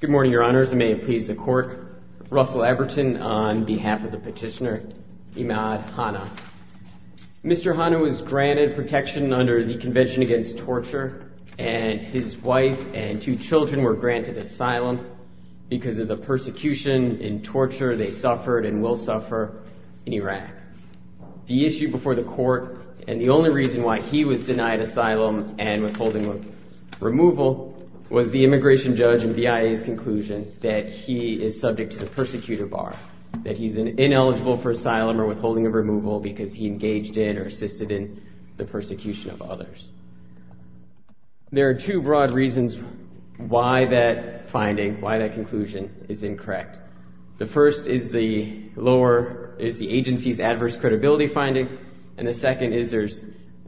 Good morning, Your Honors, and may it please the Court, Russell Eberton on behalf of the petitioner Imad Hanna. Mr. Hanna was granted protection under the Convention Against Torture, and his wife and two children were granted asylum because of the persecution and torture they suffered and will suffer in Iraq. The issue before the Court, and the only reason why he was denied asylum and withholding of removal, was the immigration judge and VIA's conclusion that he is subject to the persecutor bar, that he's ineligible for asylum or withholding of removal because he engaged in or assisted in the persecution of others. There are two broad reasons why that finding, why that conclusion, is incorrect. The first is the agency's adverse credibility finding, and the second is there's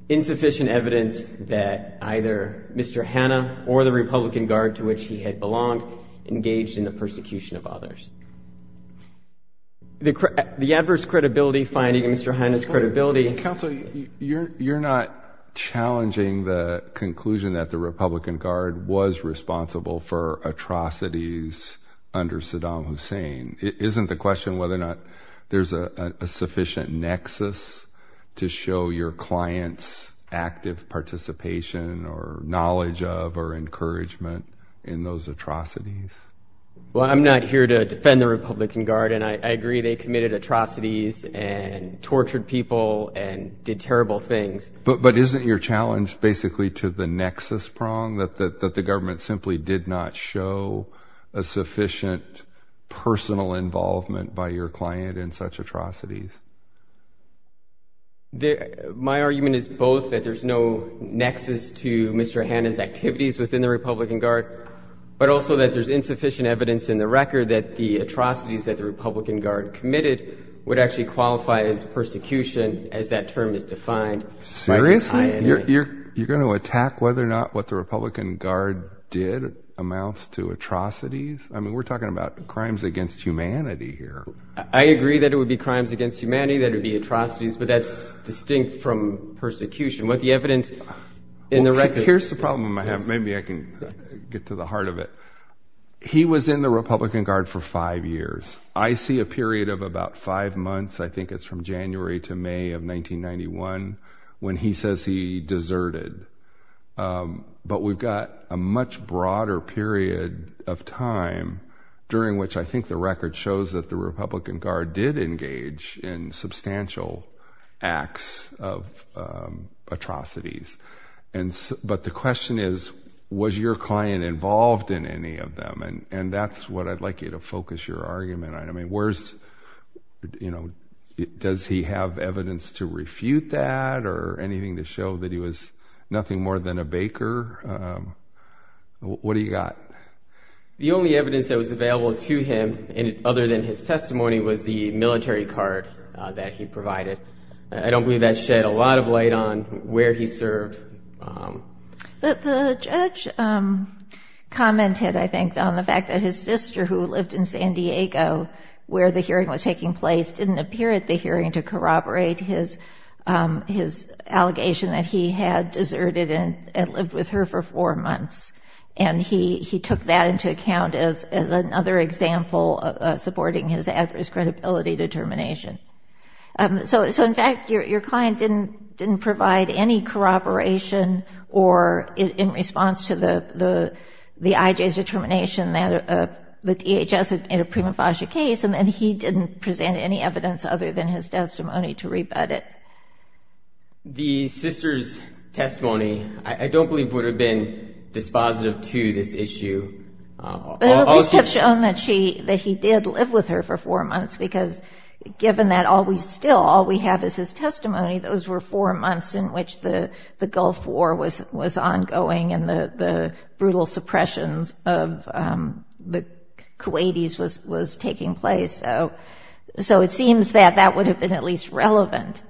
insufficient evidence that either Mr. Hanna or the Republican Guard to which he had belonged engaged in the persecution of others. The adverse credibility finding in Mr. Hanna's credibility Counsel, you're not challenging the conclusion that the Republican Guard was responsible for atrocities under Saddam Hussein. Isn't the question whether or not there's a sufficient nexus to show your client's active participation or knowledge of or encouragement in those atrocities? Well, I'm not here to defend the Republican Guard, and I agree they committed atrocities and tortured people and did terrible things. But isn't your challenge basically to the nexus prong, that the government simply did not show a sufficient personal involvement by your client in such atrocities? My argument is both that there's no nexus to Mr. Hanna's activities within the Republican Guard, but also that there's insufficient evidence in the record that the atrocities that the Republican Guard committed would actually qualify as persecution, as that term is defined. Seriously? You're going to attack whether or not what the Republican Guard did amounts to atrocities? I mean, we're talking about crimes against humanity here. I agree that it would be crimes against humanity, that it would be atrocities, but that's distinct from persecution. Here's the problem I have. Maybe I can get to the heart of it. He was in the Republican Guard for five years. I see a period of about five months, I think it's from January to May of 1991, when he says he deserted. But we've got a much broader period of time during which I think the record shows that the Republican Guard did engage in substantial acts of atrocities. But the question is, was your client involved in any of them? And that's what I'd like you to focus your argument on. I mean, does he have evidence to refute that or anything to show that he was nothing more than a baker? What do you got? The only evidence that was available to him, other than his testimony, was the military card that he provided. I don't believe that shed a lot of light on where he served. But the judge commented, I think, on the fact that his sister, who lived in San Diego where the hearing was taking place, didn't appear at the hearing to corroborate his allegation that he had deserted and lived with her for four months. And he took that into account as another example supporting his adverse credibility determination. So, in fact, your client didn't provide any corroboration or in response to the IJ's determination that the DHS had a prima facie case, and then he didn't present any evidence other than his testimony to rebut it. The sister's testimony, I don't believe, would have been dispositive to this issue. But it would at least have shown that he did live with her for four months because given that still all we have is his testimony, those were four months in which the Gulf War was ongoing and the brutal suppressions of the Kuwaitis was taking place. So it seems that that would have been at least relevant.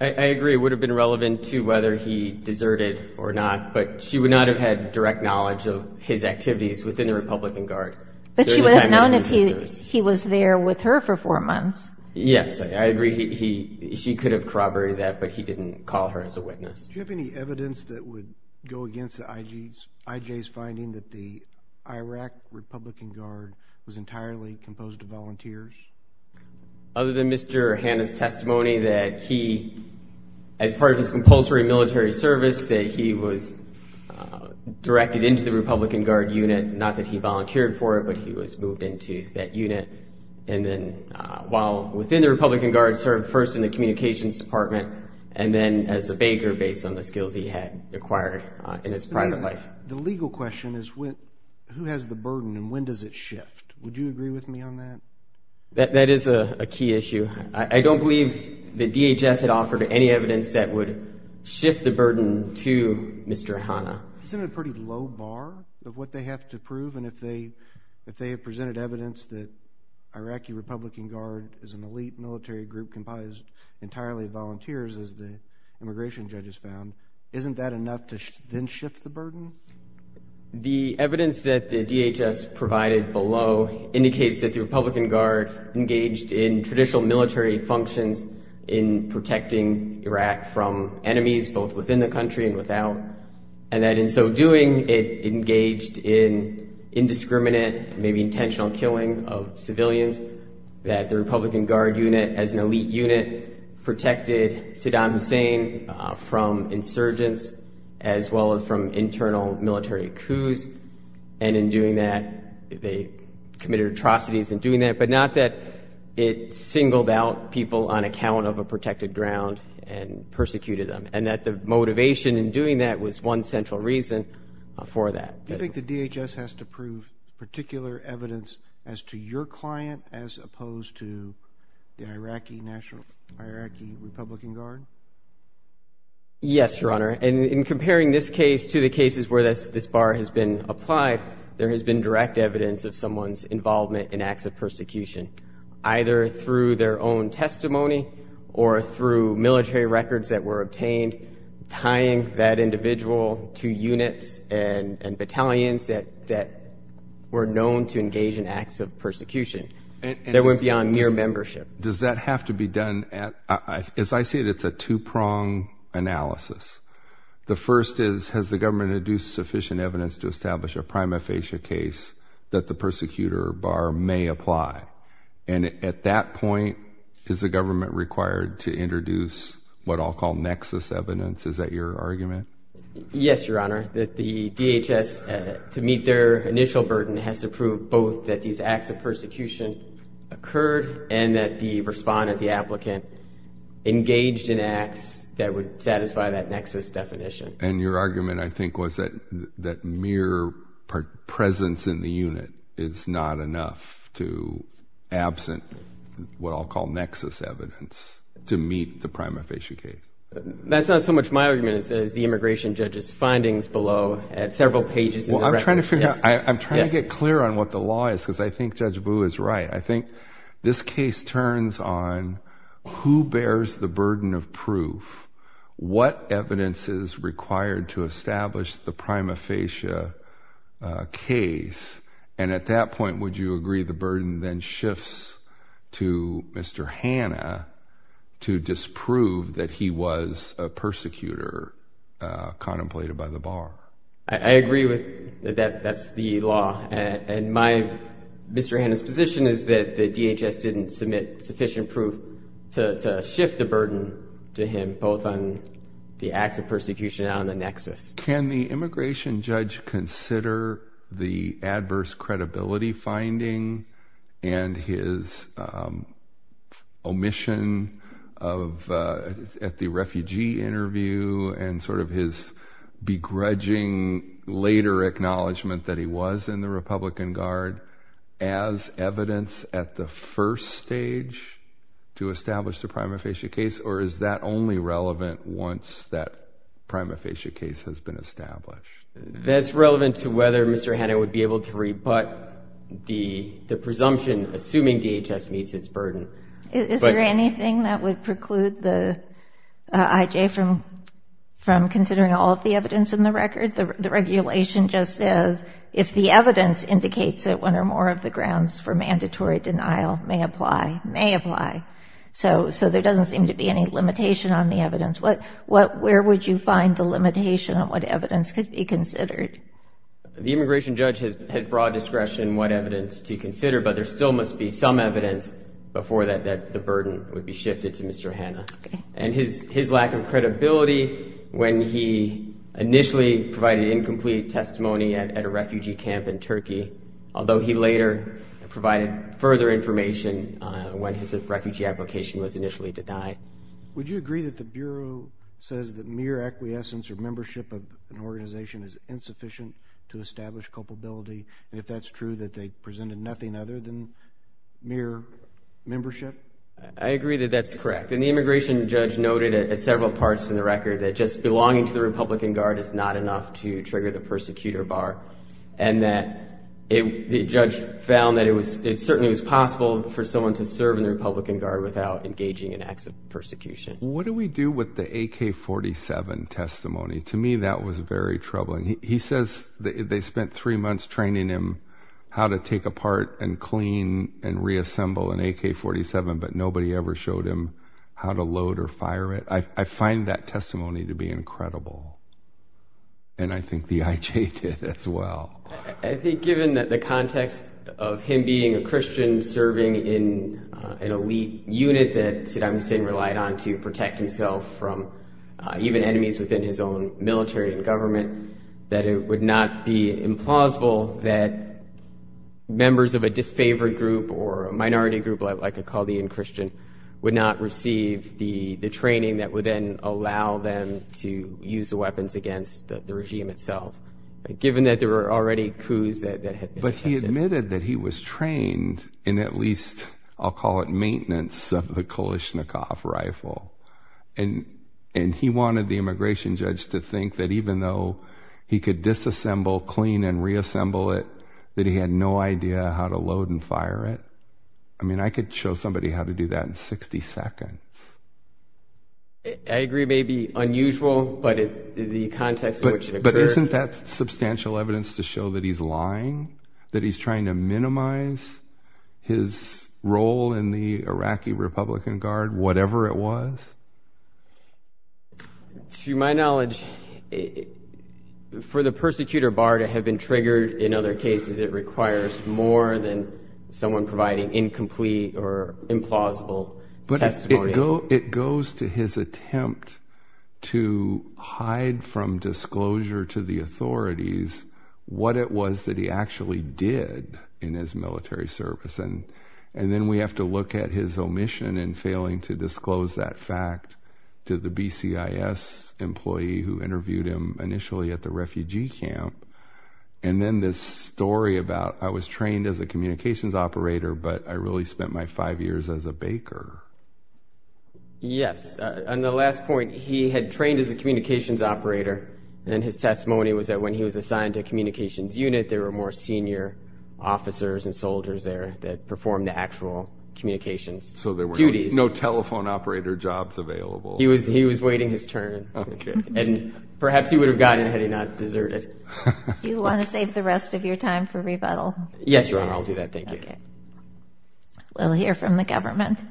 I agree it would have been relevant to whether he deserted or not, but she would not have had direct knowledge of his activities within the Republican Guard during the time that he was in service. He was there with her for four months. Yes, I agree. She could have corroborated that, but he didn't call her as a witness. Do you have any evidence that would go against the IJ's finding that the Iraq Republican Guard was entirely composed of volunteers? Other than Mr. Hanna's testimony that he, as part of his compulsory military service, that he was directed into the Republican Guard unit, not that he volunteered for it, but he was moved into that unit. And then while within the Republican Guard, served first in the communications department and then as a baker based on the skills he had acquired in his private life. The legal question is who has the burden and when does it shift? Would you agree with me on that? That is a key issue. I don't believe the DHS had offered any evidence that would shift the burden to Mr. Hanna. It's in a pretty low bar of what they have to prove, and if they have presented evidence that Iraqi Republican Guard is an elite military group comprised entirely of volunteers, as the immigration judges found, isn't that enough to then shift the burden? The evidence that the DHS provided below indicates that the Republican Guard engaged in traditional military functions in protecting Iraq from enemies, both within the country and without, and that in so doing it engaged in indiscriminate, maybe intentional killing of civilians, that the Republican Guard unit as an elite unit protected Saddam Hussein from insurgents as well as from internal military coups, and in doing that they committed atrocities in doing that, but not that it singled out people on account of a protected ground and persecuted them, and that the motivation in doing that was one central reason for that. Do you think the DHS has to prove particular evidence as to your client as opposed to the Iraqi National, Iraqi Republican Guard? Yes, Your Honor, and in comparing this case to the cases where this bar has been applied, there has been direct evidence of someone's involvement in acts of persecution, either through their own testimony or through military records that were obtained, tying that individual to units and battalions that were known to engage in acts of persecution. That went beyond mere membership. Does that have to be done? As I see it, it's a two-prong analysis. The first is, has the government induced sufficient evidence to establish a prima facie case that the persecutor bar may apply? And at that point, is the government required to introduce what I'll call nexus evidence? Is that your argument? Yes, Your Honor, that the DHS, to meet their initial burden, has to prove both that these acts of persecution occurred and that the respondent, the applicant, engaged in acts that would satisfy that nexus definition. And your argument, I think, was that mere presence in the unit is not enough to absent what I'll call nexus evidence to meet the prima facie case. That's not so much my argument as the immigration judge's findings below, at several pages in the record. Well, I'm trying to get clear on what the law is, because I think Judge Boo is right. I think this case turns on who bears the burden of proof, what evidence is required to establish the prima facie case. And at that point, would you agree the burden then shifts to Mr. Hanna to disprove that he was a persecutor contemplated by the bar? I agree that that's the law. And Mr. Hanna's position is that the DHS didn't submit sufficient proof to shift the burden to him, both on the acts of persecution and on the nexus. Can the immigration judge consider the adverse credibility finding and his omission at the refugee interview and sort of his begrudging later acknowledgement that he was in the Republican Guard as evidence at the first stage to establish the prima facie case, or is that only relevant once that prima facie case has been established? That's relevant to whether Mr. Hanna would be able to rebut the presumption, assuming DHS meets its burden. Is there anything that would preclude the IJ from considering all of the evidence in the record? The regulation just says if the evidence indicates that one or more of the grounds for mandatory denial may apply, may apply. So there doesn't seem to be any limitation on the evidence. Where would you find the limitation on what evidence could be considered? The immigration judge had broad discretion what evidence to consider, but there still must be some evidence before the burden would be shifted to Mr. Hanna. And his lack of credibility when he initially provided incomplete testimony at a refugee camp in Turkey, although he later provided further information when his refugee application was initially denied. Would you agree that the Bureau says that mere acquiescence or membership of an organization is insufficient to establish culpability, and if that's true that they presented nothing other than mere membership? I agree that that's correct. And the immigration judge noted at several parts in the record that just belonging to the Republican Guard is not enough to trigger the persecutor bar, and that the judge found that it certainly was possible for someone to serve in the Republican Guard without engaging in acts of persecution. What do we do with the AK-47 testimony? To me, that was very troubling. He says they spent three months training him how to take apart and clean and reassemble an AK-47, but nobody ever showed him how to load or fire it. I find that testimony to be incredible, and I think the IJ did as well. I think given the context of him being a Christian serving in an elite unit that Saddam Hussein relied on to protect himself from even enemies within his own military and government, that it would not be implausible that members of a disfavored group or a minority group like a Chaldean Christian would not receive the training that would then allow them to use the weapons against the regime itself, given that there were already coups that had been attempted. But he admitted that he was trained in at least, I'll call it, maintenance of the Kalashnikov rifle, and he wanted the immigration judge to think that even though he could disassemble, clean, and reassemble it, that he had no idea how to load and fire it. I mean, I could show somebody how to do that in 60 seconds. I agree it may be unusual, but in the context in which it occurred... But isn't that substantial evidence to show that he's lying, that he's trying to minimize his role in the Iraqi Republican Guard, whatever it was? To my knowledge, for the persecutor bar to have been triggered in other cases, it requires more than someone providing incomplete or implausible testimony. But it goes to his attempt to hide from disclosure to the authorities what it was that he actually did in his military service. And then we have to look at his omission in failing to disclose that fact to the BCIS employee who interviewed him initially at the refugee camp. And then this story about, I was trained as a communications operator, but I really spent my five years as a baker. Yes, and the last point, he had trained as a communications operator, and his testimony was that when he was assigned to a communications unit, there were more senior officers and soldiers there that performed the actual communications duties. So there were no telephone operator jobs available. He was waiting his turn. And perhaps he would have gotten it had he not deserted. Do you want to save the rest of your time for rebuttal? Yes, Your Honor, I'll do that. Thank you. We'll hear from the government. Go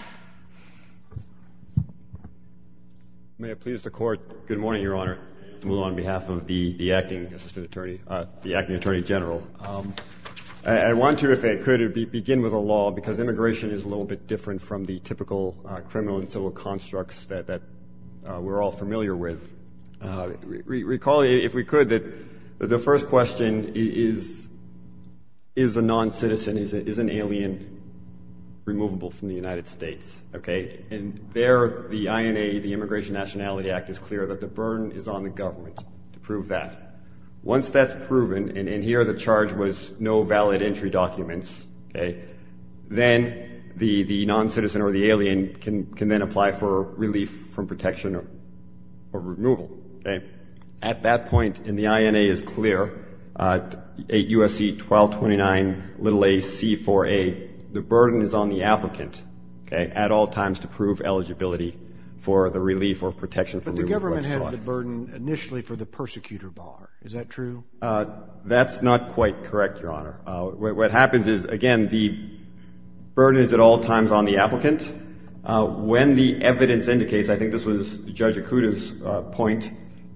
ahead. May it please the Court. Good morning, Your Honor. Good morning. I move on behalf of the acting assistant attorney, the acting attorney general. I want to, if I could, begin with a law, because immigration is a little bit different from the typical criminal and civil constructs that we're all familiar with. Recall, if we could, that the first question is, is a noncitizen, is an alien removable from the United States? And there, the INA, the Immigration Nationality Act, is clear that the burden is on the government to prove that. Once that's proven, and here the charge was no valid entry documents, then the noncitizen or the alien can then apply for relief from protection or removal. At that point, and the INA is clear, 8 U.S.C. 1229, little a, c, 4a, the burden is on the applicant at all times to prove eligibility for the relief or protection. But the government has the burden initially for the persecutor bar. Is that true? That's not quite correct, Your Honor. What happens is, again, the burden is at all times on the applicant. When the evidence indicates, I think this was Judge Akuta's point,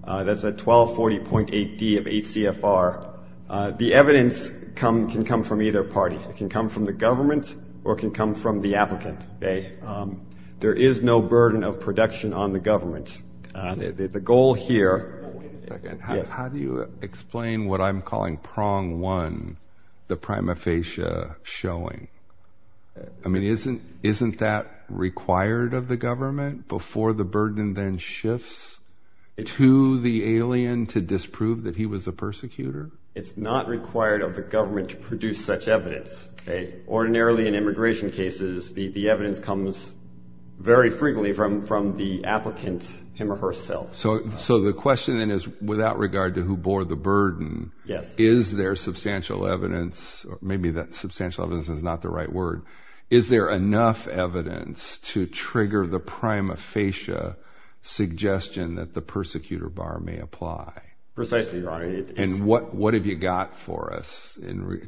that's at 1240.8d of 8 CFR, the evidence can come from either party. It can come from the government or it can come from the applicant. There is no burden of protection on the government. The goal here. How do you explain what I'm calling prong one, the prima facie showing? I mean, isn't that required of the government before the burden then shifts to the alien to disprove that he was a persecutor? It's not required of the government to produce such evidence. Ordinarily in immigration cases, the evidence comes very frequently from the applicant him or herself. So the question then is, without regard to who bore the burden, is there substantial evidence? Maybe that substantial evidence is not the right word. Is there enough evidence to trigger the prima facie suggestion that the persecutor bar may apply? Precisely, Your Honor. And what have you got for us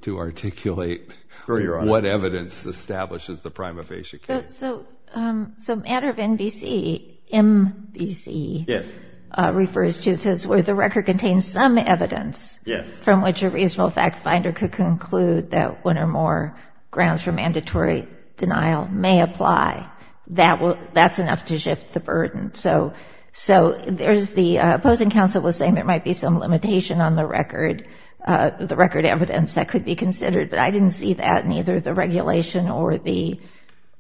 to articulate what evidence establishes the prima facie case? So matter of NBC, MBC, refers to where the record contains some evidence from which a reasonable fact finder could conclude that one or more grounds for mandatory denial may apply. So there's the opposing counsel was saying there might be some limitation on the record, the record evidence that could be considered. But I didn't see that in either the regulation or the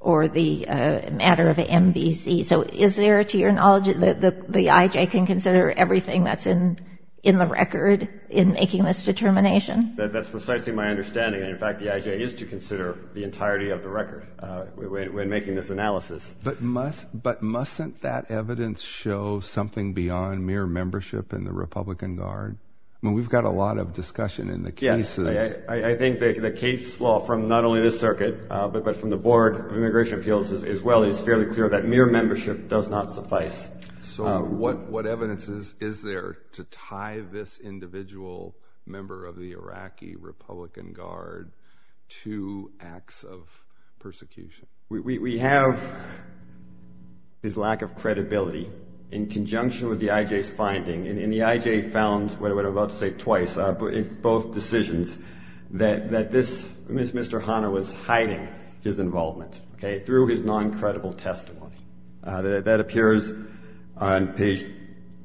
matter of MBC. So is there, to your knowledge, the IJ can consider everything that's in the record in making this determination? That's precisely my understanding. In fact, the IJ is to consider the entirety of the record when making this analysis. But mustn't that evidence show something beyond mere membership in the Republican Guard? I mean, we've got a lot of discussion in the cases. I think the case law from not only this circuit, but from the Board of Immigration Appeals as well, is fairly clear that mere membership does not suffice. So what evidence is there to tie this individual member of the Iraqi Republican Guard to acts of persecution? We have his lack of credibility in conjunction with the IJ's finding. And the IJ found, what I'm about to say twice, in both decisions, that this Mr. Hanna was hiding his involvement, okay, through his non-credible testimony. That appears on page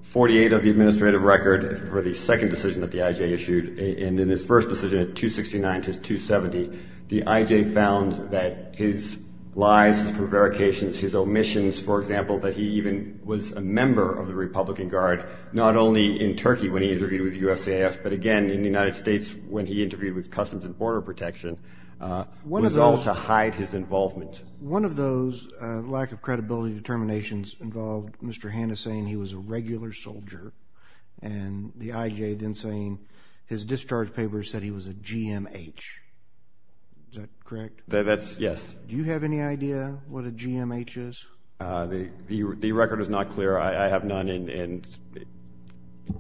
48 of the administrative record for the second decision that the IJ issued. And in his first decision at 269 to 270, the IJ found that his lies, his prevarications, his omissions, for example, that he even was a member of the Republican Guard, not only in Turkey when he interviewed with USCIS, but again in the United States when he interviewed with Customs and Border Protection, was all to hide his involvement. One of those lack of credibility determinations involved Mr. Hanna saying he was a regular soldier and the IJ then saying his discharge papers said he was a GMH. Is that correct? Yes. Do you have any idea what a GMH is? The record is not clear. I have none, and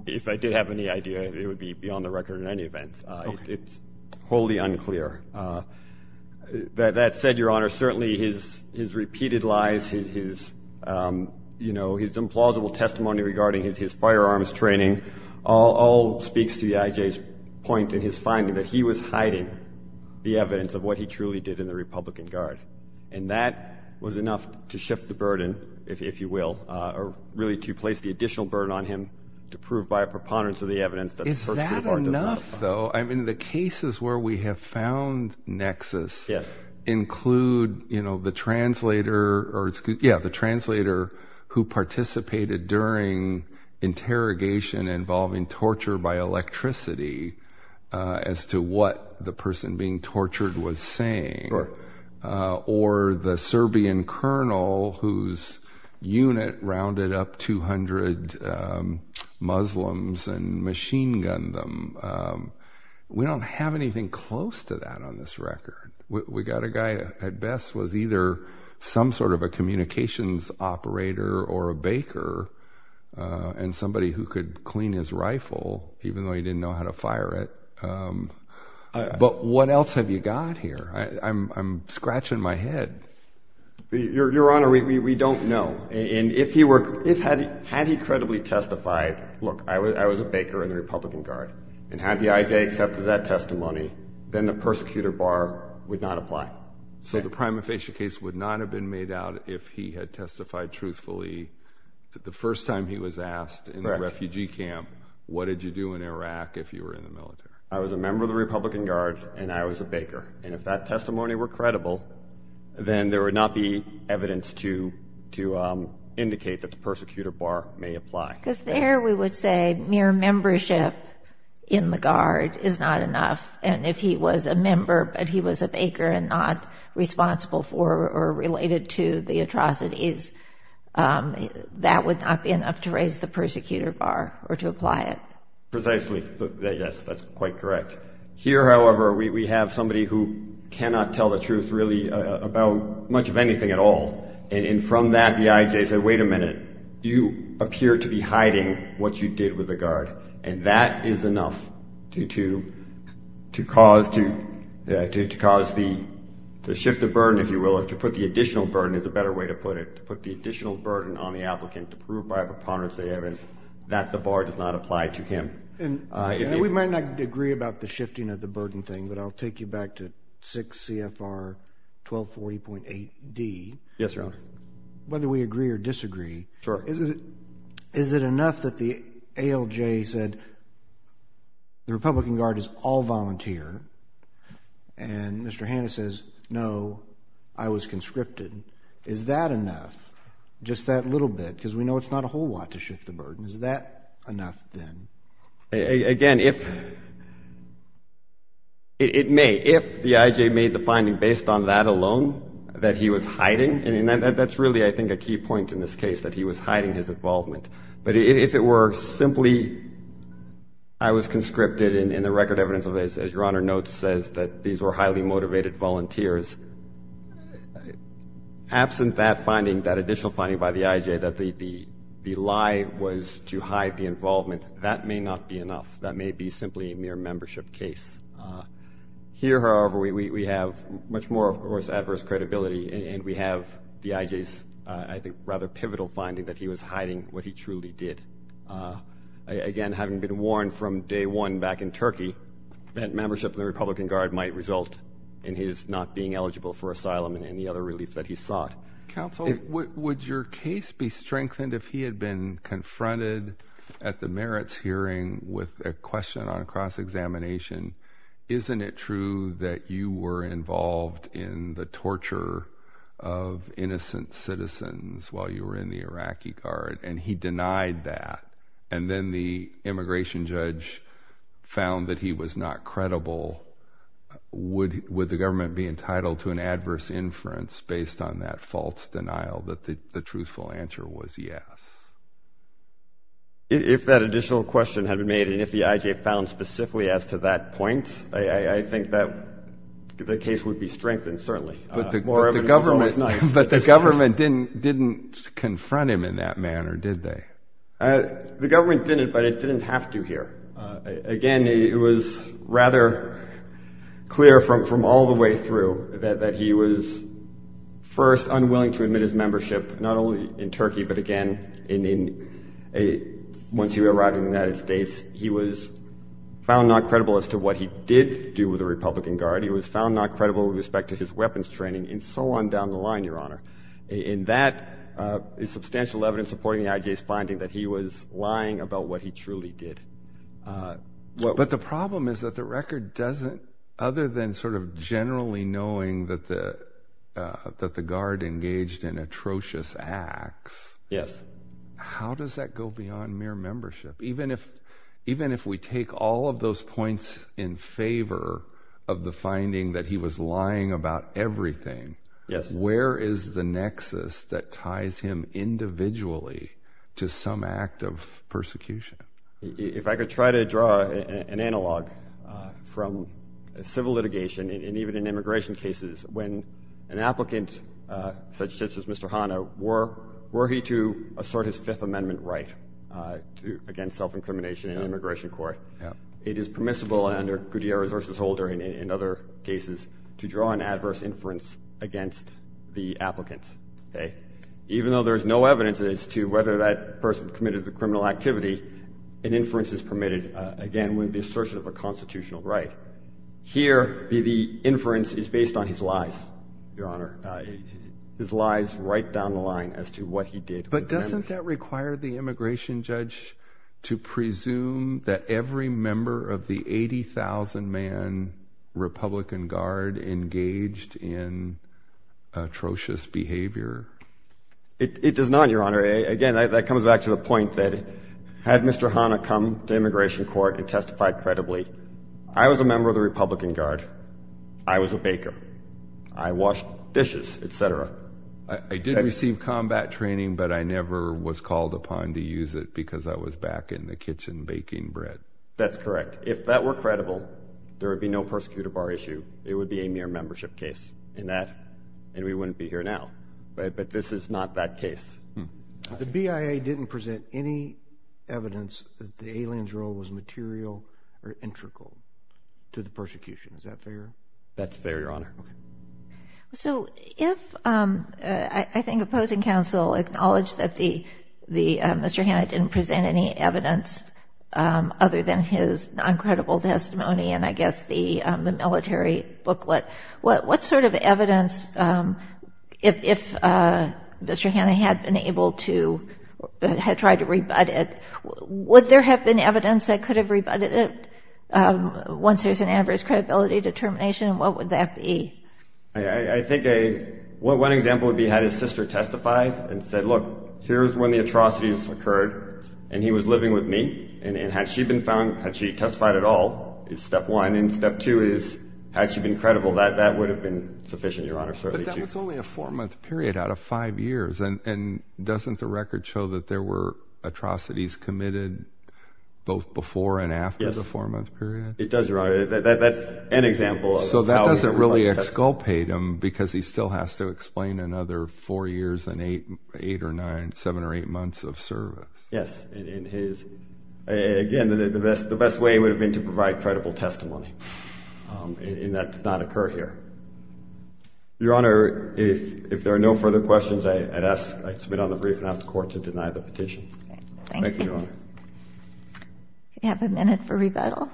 if I did have any idea, it would be beyond the record in any event. It's wholly unclear. That said, Your Honor, certainly his repeated lies, his, you know, his implausible testimony regarding his firearms training all speaks to the IJ's point in his finding that he was hiding the evidence of what he truly did in the Republican Guard. And that was enough to shift the burden, if you will, or really to place the additional burden on him to prove by a preponderance of the evidence that the first report does not lie. Is that enough, though? I mean, the cases where we have found nexus include, you know, the translator who participated during interrogation involving torture by electricity as to what the person being tortured was saying, or the Serbian colonel whose unit rounded up 200 Muslims and machine gunned them. We don't have anything close to that on this record. We got a guy at best was either some sort of a communications operator or a baker and somebody who could clean his rifle, even though he didn't know how to fire it. But what else have you got here? I'm scratching my head. Your Honor, we don't know. And if he were, had he credibly testified, look, I was a baker in the Republican Guard, and had the IJ accepted that testimony, then the persecutor bar would not apply. So the prima facie case would not have been made out if he had testified truthfully. The first time he was asked in the refugee camp, what did you do in Iraq if you were in the military? I was a member of the Republican Guard, and I was a baker. And if that testimony were credible, then there would not be evidence to indicate that the persecutor bar may apply. Because there we would say mere membership in the Guard is not enough. And if he was a member but he was a baker and not responsible for or related to the atrocities, that would not be enough to raise the persecutor bar or to apply it. Precisely. Yes, that's quite correct. Here, however, we have somebody who cannot tell the truth really about much of anything at all. And from that, the IJ said, wait a minute, you appear to be hiding what you did with the Guard. And that is enough to cause the shift of burden, if you will, or to put the additional burden is a better way to put it, to put the additional burden on the applicant to prove by preponderance of evidence that the bar does not apply to him. We might not agree about the shifting of the burden thing, but I'll take you back to 6 CFR 1240.8D. Yes, Your Honor. Whether we agree or disagree, is it enough that the ALJ said the Republican Guard is all volunteer and Mr. Hanna says, no, I was conscripted. Is that enough, just that little bit? Because we know it's not a whole lot to shift the burden. Is that enough then? Again, if it may, if the IJ made the finding based on that alone, that he was hiding, and that's really I think a key point in this case, that he was hiding his involvement. But if it were simply I was conscripted and the record evidence, as Your Honor notes, says that these were highly motivated volunteers, absent that finding, that additional finding by the IJ, that the lie was to hide the involvement, that may not be enough. That may be simply a mere membership case. Here, however, we have much more, of course, adverse credibility, and we have the IJ's I think rather pivotal finding that he was hiding what he truly did. Again, having been warned from day one back in Turkey that membership in the Republican Guard might result in his not being eligible for asylum and any other relief that he sought. Counsel, would your case be strengthened if he had been confronted at the merits hearing with a question on cross-examination? Isn't it true that you were involved in the torture of innocent citizens while you were in the Iraqi Guard? And he denied that. And then the immigration judge found that he was not credible. Would the government be entitled to an adverse inference based on that false denial that the truthful answer was yes? If that additional question had been made and if the IJ found specifically as to that point, I think that the case would be strengthened, certainly. But the government didn't confront him in that manner, did they? The government didn't, but it didn't have to here. Again, it was rather clear from all the way through that he was first unwilling to admit his membership, not only in Turkey but again once he arrived in the United States. He was found not credible as to what he did do with the Republican Guard. He was found not credible with respect to his weapons training and so on down the line, Your Honor. And that is substantial evidence supporting the IJ's finding that he was lying about what he truly did. But the problem is that the record doesn't, other than sort of generally knowing that the Guard engaged in atrocious acts, how does that go beyond mere membership? Even if we take all of those points in favor of the finding that he was lying about everything, where is the nexus that ties him individually to some act of persecution? If I could try to draw an analog from civil litigation and even in immigration cases, when an applicant such as Mr. Hanna, were he to assert his Fifth Amendment right against self-incrimination in immigration court, it is permissible under Gutierrez v. Holder and in other cases to draw an adverse inference against the applicant. Even though there is no evidence as to whether that person committed the criminal activity, an inference is permitted, again, when the assertion of a constitutional right. Here, the inference is based on his lies, Your Honor, his lies right down the line as to what he did. But doesn't that require the immigration judge to presume that every member of the 80,000-man Republican Guard engaged in atrocious behavior? It does not, Your Honor. Again, that comes back to the point that had Mr. Hanna come to immigration court and testified credibly, I was a member of the Republican Guard, I was a baker, I washed dishes, etc. I did receive combat training, but I never was called upon to use it because I was back in the kitchen baking bread. That's correct. If that were credible, there would be no persecutor bar issue. It would be a mere membership case, and we wouldn't be here now. But this is not that case. The BIA didn't present any evidence that the alien's role was material or integral to the persecution. Is that fair? That's fair, Your Honor. So if, I think, opposing counsel acknowledged that Mr. Hanna didn't present any evidence other than his non-credible testimony and, I guess, the military booklet, what sort of evidence, if Mr. Hanna had been able to try to rebut it, would there have been evidence that could have rebutted it once there's an adverse credibility determination? What would that be? I think one example would be had his sister testified and said, look, here's when the atrocities occurred, and he was living with me, and had she been found, had she testified at all, is step one. And step two is, had she been credible, that would have been sufficient, Your Honor. But that was only a four-month period out of five years. And doesn't the record show that there were atrocities committed both before and after the four-month period? It does, Your Honor. That's an example of how he would have testified. So that doesn't really exculpate him because he still has to explain another four years and eight or nine, seven or eight months of service. Yes, and again, the best way would have been to provide credible testimony, and that did not occur here. Your Honor, if there are no further questions, I submit on the brief and ask the Court to deny the petition. Thank you. Thank you, Your Honor. We have a minute for rebuttal.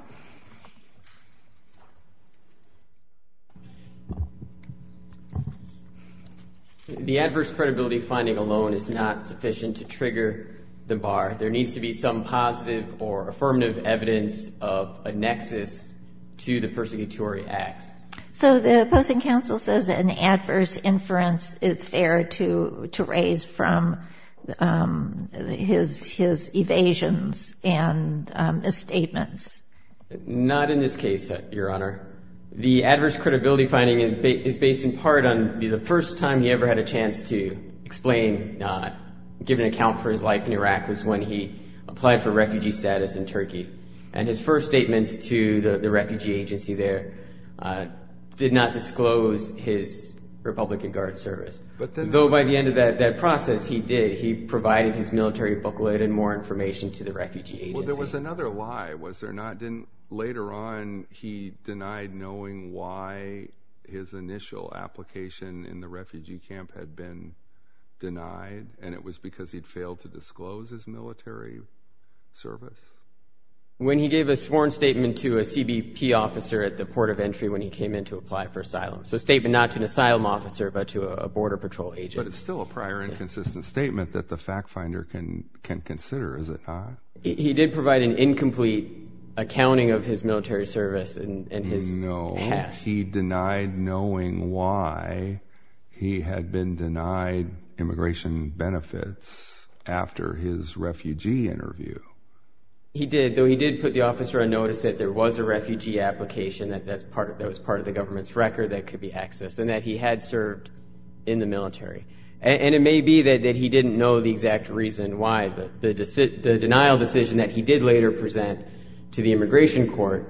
The adverse credibility finding alone is not sufficient to trigger the bar. There needs to be some positive or affirmative evidence of a nexus to the persecutory acts. So the opposing counsel says an adverse inference is fair to raise from his evasions and misstatements. Not in this case, Your Honor. The adverse credibility finding is based in part on the first time he ever had a chance to explain, give an account for his life in Iraq was when he applied for refugee status in Turkey. And his first statements to the refugee agency there did not disclose his Republican Guard service. Though by the end of that process, he did. He provided his military booklet and more information to the refugee agency. So there was another lie, was there not? Later on, he denied knowing why his initial application in the refugee camp had been denied, and it was because he'd failed to disclose his military service? When he gave a sworn statement to a CBP officer at the port of entry when he came in to apply for asylum. So a statement not to an asylum officer but to a border patrol agent. But it's still a prior inconsistent statement that the fact finder can consider, is it not? He did provide an incomplete accounting of his military service and his past. No, he denied knowing why he had been denied immigration benefits after his refugee interview. He did, though he did put the officer on notice that there was a refugee application that was part of the government's record that could be accessed, and that he had served in the military. And it may be that he didn't know the exact reason why. The denial decision that he did later present to the immigration court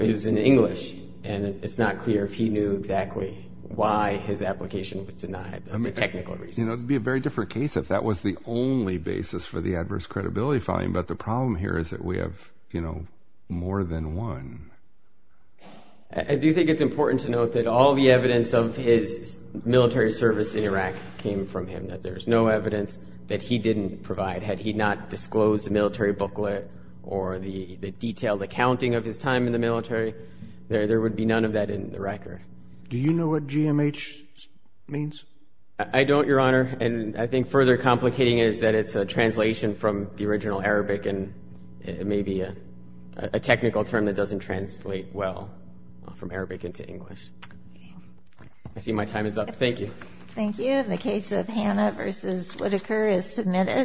is in English, and it's not clear if he knew exactly why his application was denied, the technical reason. It would be a very different case if that was the only basis for the adverse credibility finding, but the problem here is that we have more than one. I do think it's important to note that all the evidence of his military service in Iraq came from him, that there's no evidence that he didn't provide. Had he not disclosed the military booklet or the detailed accounting of his time in the military, there would be none of that in the record. Do you know what GMH means? I don't, Your Honor. And I think further complicating it is that it's a translation from the original Arabic and it may be a technical term that doesn't translate well from Arabic into English. I see my time is up. Thank you. Thank you. And the case of Hannah v. Whitaker is submitted.